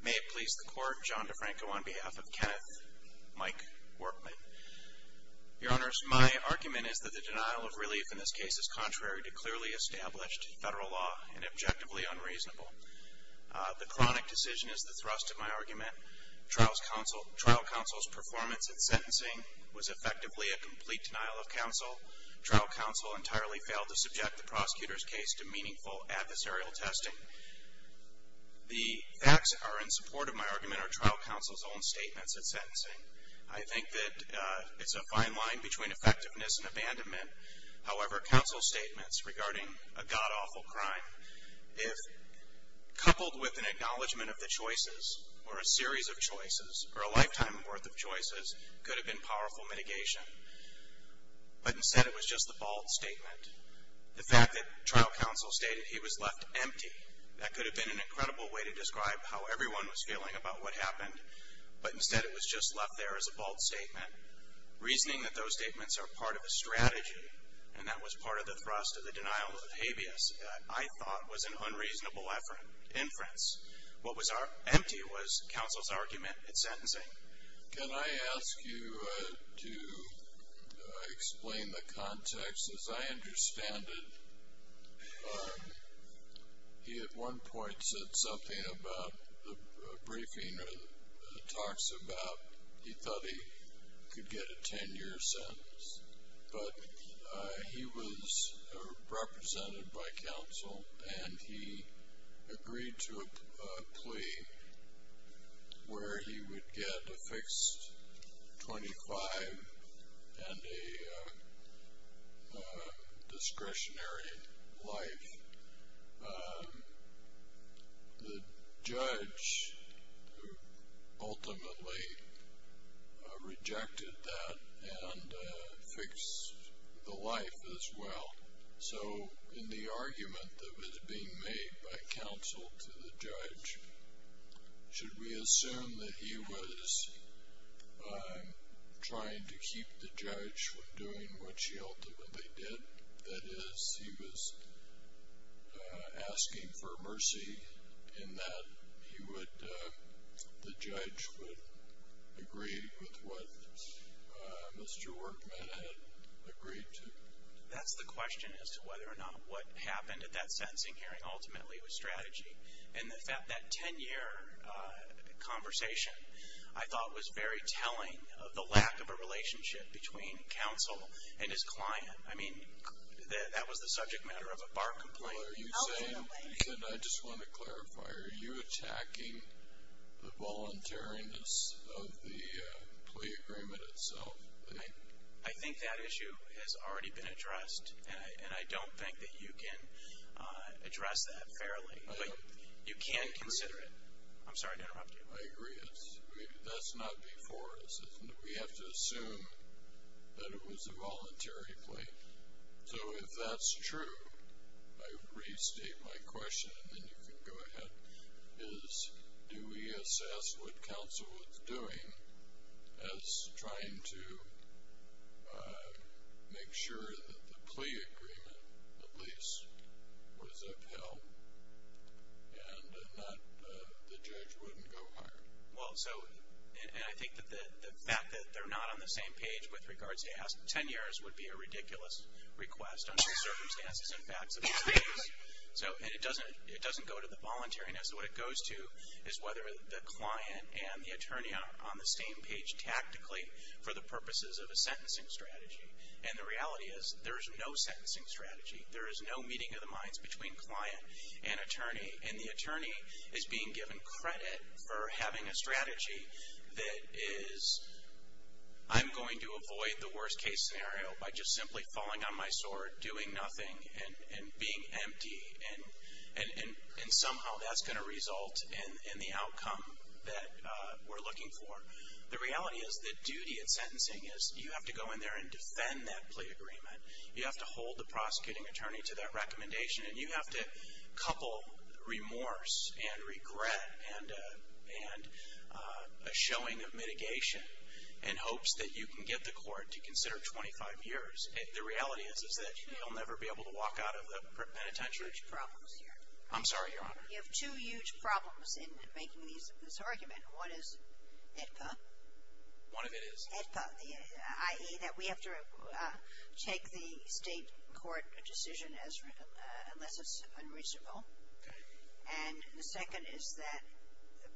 May it please the Court, John DeFranco on behalf of Kenneth Mike Workman. Your Honors, my argument is that the denial of relief in this case is contrary to clearly established federal law and objectively unreasonable. The chronic decision is the thrust of my argument. Trial counsel's performance at sentencing was effectively a complete denial of counsel. Trial counsel entirely failed to subject the prosecutor's case to meaningful adversarial testing. The facts that are in support of my argument are trial counsel's own statements at sentencing. I think that it's a fine line between effectiveness and abandonment. However, counsel's statements regarding a god-awful crime, if coupled with an acknowledgment of the choices, or a series of choices, or a lifetime worth of choices, could have been powerful mitigation. But instead it was just a bald statement. The fact that trial counsel stated he was left empty, that could have been an incredible way to describe how everyone was feeling about what happened, but instead it was just left there as a bald statement. Reasoning that those statements are part of a strategy, and that was part of the thrust of the denial of habeas that I thought was an unreasonable inference. What was empty was counsel's argument at sentencing. Can I ask you to explain the context? As I understand it, he at one point said something about a briefing or talks about he thought he could get a 10-year sentence. But he was represented by counsel, and he agreed to a plea where he would get a fixed 25 and a discretionary life. The judge ultimately rejected that and fixed the life as well. So in the argument that was being made by counsel to the judge, should we assume that he was trying to keep the judge from doing what she ultimately did? That is, he was asking for mercy in that the judge would agree with what Mr. Workman had agreed to? That's the question as to whether or not what happened at that sentencing hearing ultimately was strategy. And that 10-year conversation I thought was very telling of the lack of a relationship between counsel and his client. I mean, that was the subject matter of a bar complaint. Well, I just want to clarify. Are you attacking the voluntariness of the plea agreement itself? I think that issue has already been addressed, and I don't think that you can address that fairly. But you can consider it. I'm sorry to interrupt you. I agree. That's not before us. We have to assume that it was a voluntary plea. So if that's true, I restate my question, and then you can go ahead, is do we assess what counsel was doing as trying to make sure that the plea agreement at least was upheld and that the judge wouldn't go hard? Well, so, and I think that the fact that they're not on the same page with regards to 10 years would be a ridiculous request under the circumstances and facts of these things. And it doesn't go to the voluntariness. What it goes to is whether the client and the attorney are on the same page tactically for the purposes of a sentencing strategy. And the reality is there is no sentencing strategy. There is no meeting of the minds between client and attorney. And the attorney is being given credit for having a strategy that is I'm going to avoid the worst-case scenario by just simply falling on my sword, doing nothing, and being empty. And somehow that's going to result in the outcome that we're looking for. The reality is the duty of sentencing is you have to go in there and defend that plea agreement. You have to hold the prosecuting attorney to that recommendation. And you have to couple remorse and regret and a showing of mitigation in hopes that you can get the court to consider 25 years. The reality is that you'll never be able to walk out of the penitentiary. You have huge problems here. I'm sorry, Your Honor. You have two huge problems in making this argument. One is AEDPA. One of it is? AEDPA, i.e. that we have to take the state court decision as unless it's unreasonable. And the second is that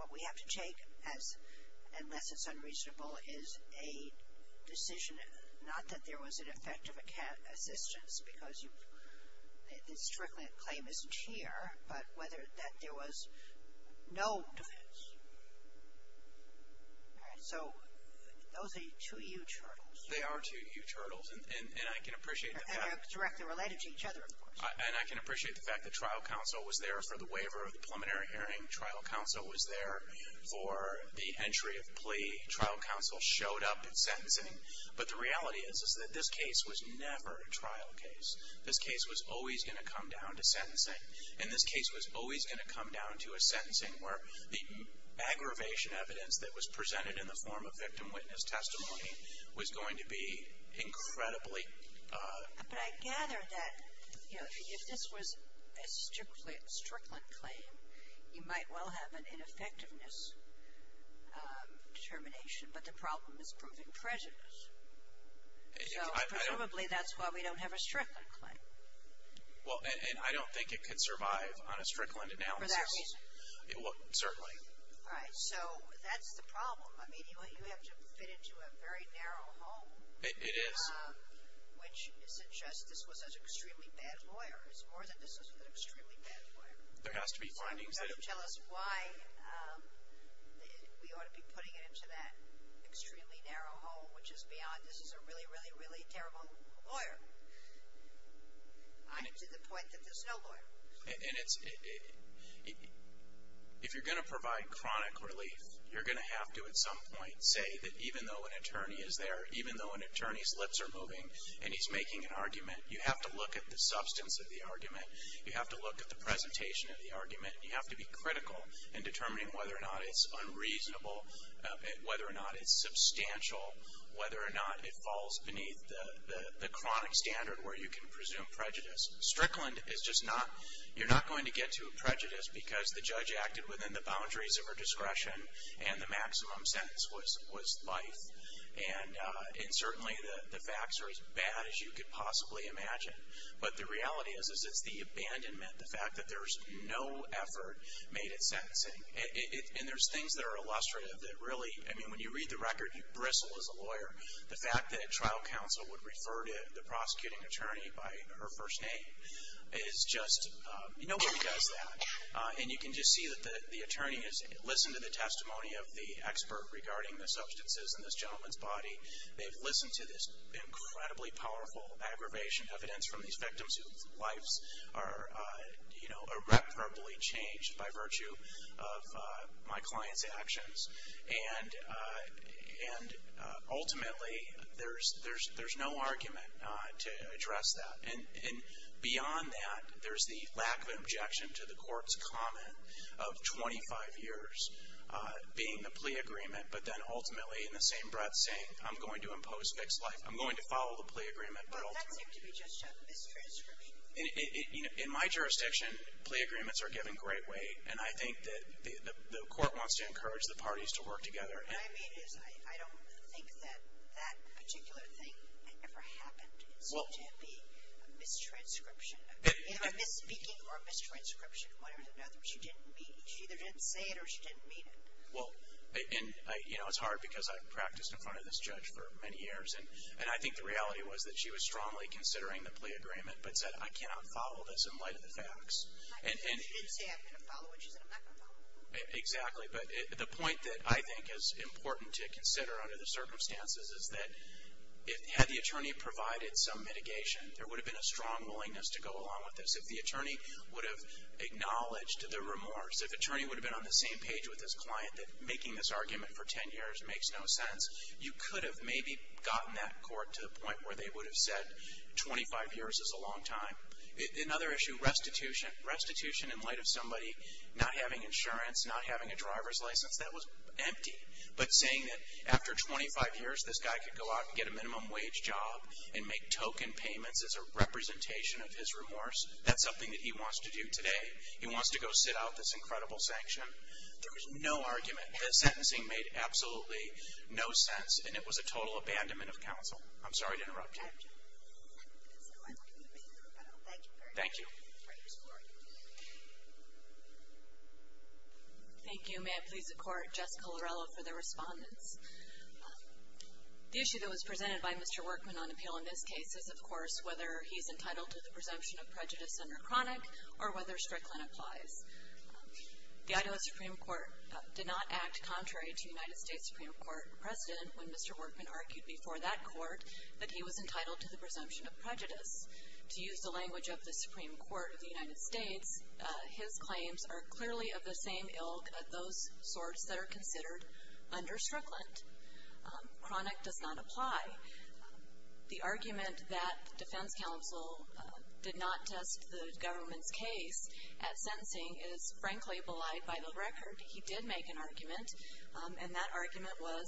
what we have to take as unless it's unreasonable is a decision, not that there was an effective assistance because the stricter claim isn't here, but whether that there was no defense. All right. So those are two huge hurdles. They are two huge hurdles. And I can appreciate that. And they're directly related to each other, of course. And I can appreciate the fact that trial counsel was there for the waiver of the preliminary hearing. Trial counsel was there for the entry of plea. Trial counsel showed up at sentencing. But the reality is that this case was never a trial case. This case was always going to come down to sentencing. And this case was always going to come down to a sentencing where the aggravation evidence that was presented in the form of victim witness testimony was going to be incredibly. But I gather that, you know, if this was a stricter claim, you might well have an ineffectiveness determination. But the problem is proving prejudice. So presumably that's why we don't have a stricter claim. Well, and I don't think it could survive on a Strickland analysis. For that reason. Well, certainly. All right. So that's the problem. I mean, you have to fit into a very narrow hole. It is. Which suggests this was an extremely bad lawyer. It's more than this was an extremely bad lawyer. There has to be findings. You've got to tell us why we ought to be putting it into that extremely narrow hole, which is beyond this is a really, really, really terrible lawyer. I'm to the point that there's no lawyer. And it's, if you're going to provide chronic relief, you're going to have to at some point say that even though an attorney is there, even though an attorney's lips are moving and he's making an argument, you have to look at the substance of the argument. You have to look at the presentation of the argument. You have to be critical in determining whether or not it's unreasonable, whether or not it's substantial, whether or not it falls beneath the chronic standard where you can presume prejudice. Strickland is just not, you're not going to get to a prejudice because the judge acted within the boundaries of her discretion and the maximum sentence was life. And certainly the facts are as bad as you could possibly imagine. But the reality is it's the abandonment, the fact that there's no effort made at sentencing. And there's things that are illustrative that really, I mean, when you read the record, Bristle is a lawyer. The fact that a trial counsel would refer to the prosecuting attorney by her first name is just, nobody does that. And you can just see that the attorney has listened to the testimony of the expert regarding the substances in this gentleman's body. They've listened to this incredibly powerful aggravation evidence from these victims And ultimately, there's no argument to address that. And beyond that, there's the lack of objection to the court's comment of 25 years being the plea agreement, but then ultimately in the same breath saying, I'm going to impose fixed life, I'm going to follow the plea agreement, but ultimately. But that seemed to be just a mistranscription. In my jurisdiction, plea agreements are given great weight. And I think that the court wants to encourage the parties to work together. What I mean is I don't think that that particular thing ever happened. It seemed to be a mistranscription. Either a misspeaking or a mistranscription. One or the other. She didn't meet. She either didn't say it or she didn't meet it. Well, you know, it's hard because I've practiced in front of this judge for many years. And I think the reality was that she was strongly considering the plea agreement, but said, I cannot follow this in light of the facts. She didn't say, I'm going to follow it. She said, I'm not going to follow it. Exactly. But the point that I think is important to consider under the circumstances is that had the attorney provided some mitigation, there would have been a strong willingness to go along with this. If the attorney would have acknowledged the remorse, if the attorney would have been on the same page with his client that making this argument for 10 years makes no sense, you could have maybe gotten that court to the point where they would have said, 25 years is a long time. Another issue, restitution. Restitution in light of somebody not having insurance, not having a driver's license, that was empty. But saying that after 25 years this guy could go out and get a minimum wage job and make token payments as a representation of his remorse, that's something that he wants to do today. He wants to go sit out this incredible sanction. There was no argument. The sentencing made absolutely no sense, and it was a total abandonment of counsel. I'm sorry to interrupt you. So I'm going to make the rebuttal. Thank you very much. Thank you. Thank you. May it please the Court, Jessica Larello for the respondents. The issue that was presented by Mr. Workman on appeal in this case is, of course, whether he's entitled to the presumption of prejudice under chronic or whether Strickland applies. The Idaho Supreme Court did not act contrary to the United States Supreme Court precedent when Mr. Workman argued before that court that he was entitled to the presumption of prejudice. To use the language of the Supreme Court of the United States, his claims are clearly of the same ilk of those sorts that are considered under Strickland. Chronic does not apply. The argument that the defense counsel did not test the government's case at sentencing is frankly belied by the record. He did make an argument, and that argument was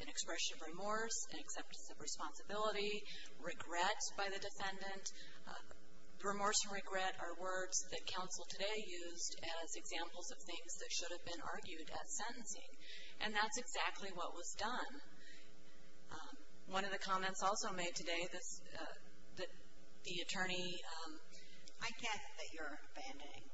an expression of remorse, an acceptance of responsibility, regret by the defendant. Remorse and regret are words that counsel today used as examples of things that should have been argued at sentencing. And that's exactly what was done. One of the comments also made today, the attorney. I can't think that you're abandoning.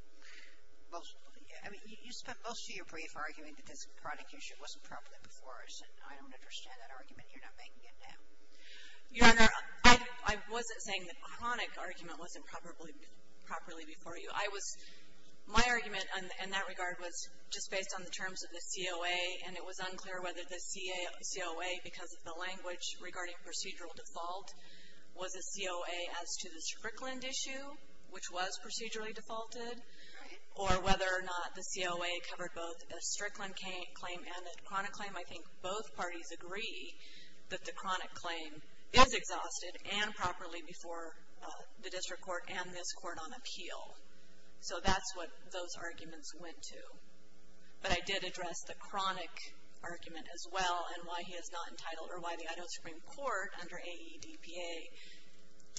I mean, you spent most of your brief arguing that this chronic issue wasn't properly before us, and I don't understand that argument. You're not making it now. Your Honor, I wasn't saying the chronic argument wasn't properly before you. I was my argument in that regard was just based on the terms of the COA, and it was unclear whether the COA, because of the language regarding procedural default, was a COA as to the Strickland issue, which was procedurally defaulted, or whether or not the COA covered both a Strickland claim and a chronic claim. I think both parties agree that the chronic claim is exhausted and properly before the district court and this court on appeal. So that's what those arguments went to. But I did address the chronic argument as well and why he is not entitled or why the Idaho Supreme Court under AEDPA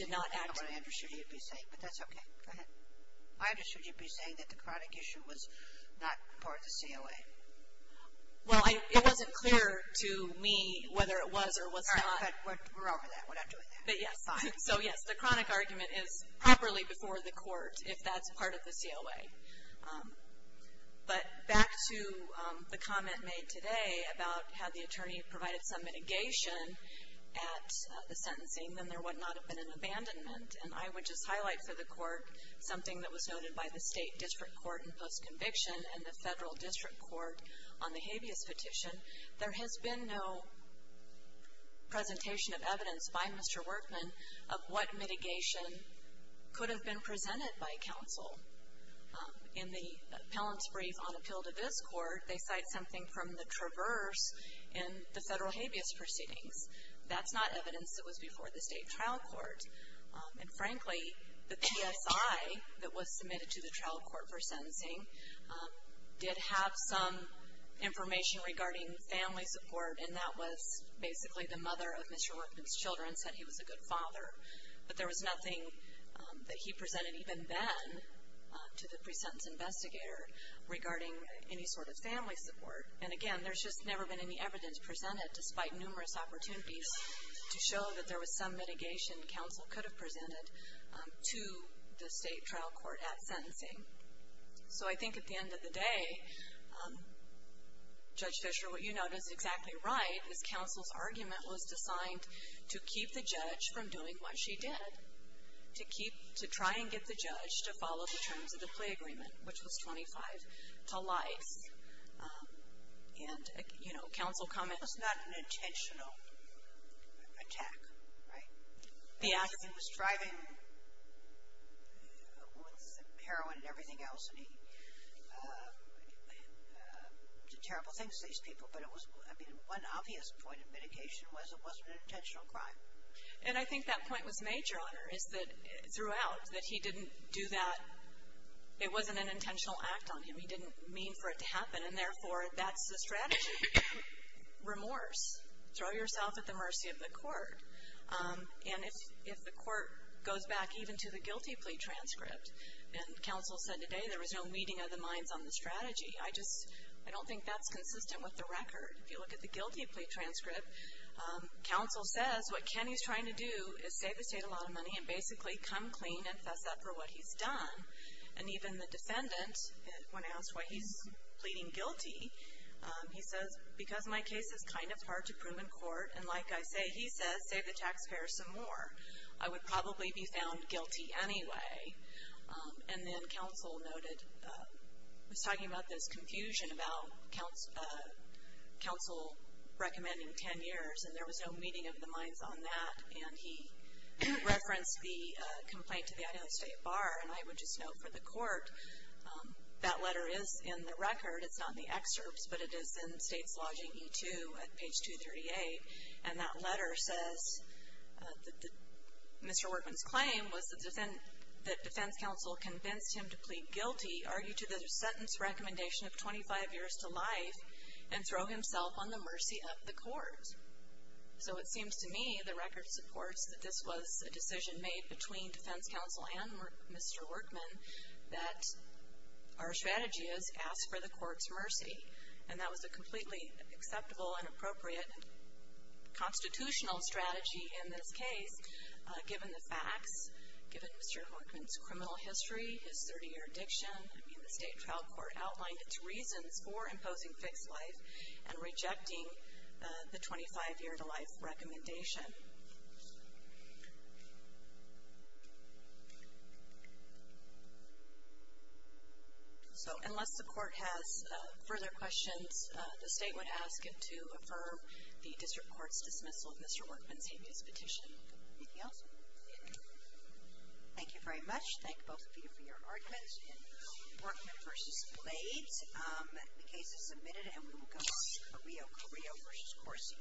did not act. I don't know what I understood you to be saying, but that's okay. Go ahead. I understood you to be saying that the chronic issue was not part of the COA. Well, it wasn't clear to me whether it was or was not. All right, but we're over that. We're not doing that. But yes, so yes, the chronic argument is properly before the court if that's part of the COA. But back to the comment made today about how the attorney provided some mitigation at the sentencing, then there would not have been an abandonment. And I would just highlight for the court something that was noted by the state district court in post-conviction and the federal district court on the habeas petition. There has been no presentation of evidence by Mr. Workman of what mitigation could have been presented by counsel. In the appellant's brief on appeal to this court, they cite something from the traverse in the federal habeas proceedings. That's not evidence that was before the state trial court. And frankly, the PSI that was submitted to the trial court for sentencing did have some information regarding family support, and that was basically the mother of Mr. Workman's children said he was a good father. But there was nothing that he presented even then to the pre-sentence investigator regarding any sort of family support. And again, there's just never been any evidence presented, despite numerous opportunities to show that there was some mitigation counsel could have presented to the state trial court at sentencing. So I think at the end of the day, Judge Fischer, what you note is exactly right, is counsel's argument was designed to keep the judge from doing what she did, to try and get the judge to follow the terms of the plea agreement, which was 25 to life. And, you know, counsel commented. This was not an intentional attack, right? He was driving with heroin and everything else, and he did terrible things to these people. But it was, I mean, one obvious point of mitigation was it wasn't an intentional crime. And I think that point was made, Your Honor, is that throughout, that he didn't do that. It wasn't an intentional act on him. He didn't mean for it to happen, and, therefore, that's the strategy. Remorse. Throw yourself at the mercy of the court. And if the court goes back even to the guilty plea transcript, and counsel said today there was no weeding of the minds on the strategy, I just don't think that's consistent with the record. If you look at the guilty plea transcript, counsel says what Kenny's trying to do is save the state a lot of money and basically come clean and fess up for what he's done. And even the defendant, when asked why he's pleading guilty, he says, because my case is kind of hard to prove in court, and like I say, he says, save the taxpayers some more. I would probably be found guilty anyway. And then counsel noted, was talking about this confusion about counsel recommending 10 years, and there was no weeding of the minds on that. And he referenced the complaint to the Idaho State Bar, and I would just note for the court that letter is in the record. It's not in the excerpts, but it is in State's Logging E-2 at page 238, and that letter says Mr. Workman's claim was that defense counsel convinced him to plead guilty, argue to the sentence recommendation of 25 years to life, and throw himself on the mercy of the court. So it seems to me the record supports that this was a decision made between defense counsel and Mr. Workman that our strategy is ask for the court's mercy, and that was a completely acceptable and appropriate constitutional strategy in this case, given the facts, given Mr. Workman's criminal history, his 30-year addiction. I mean, the state trial court outlined its reasons for imposing fixed life and rejecting the 25-year to life recommendation. So unless the court has further questions, the state would ask it to affirm the district court's dismissal of Mr. Workman's habeas petition. Anything else? Thank you very much. Thank both of you for your arguments in Workman v. Blades. The case is submitted, and we will go on to Carrillo v. Corsi.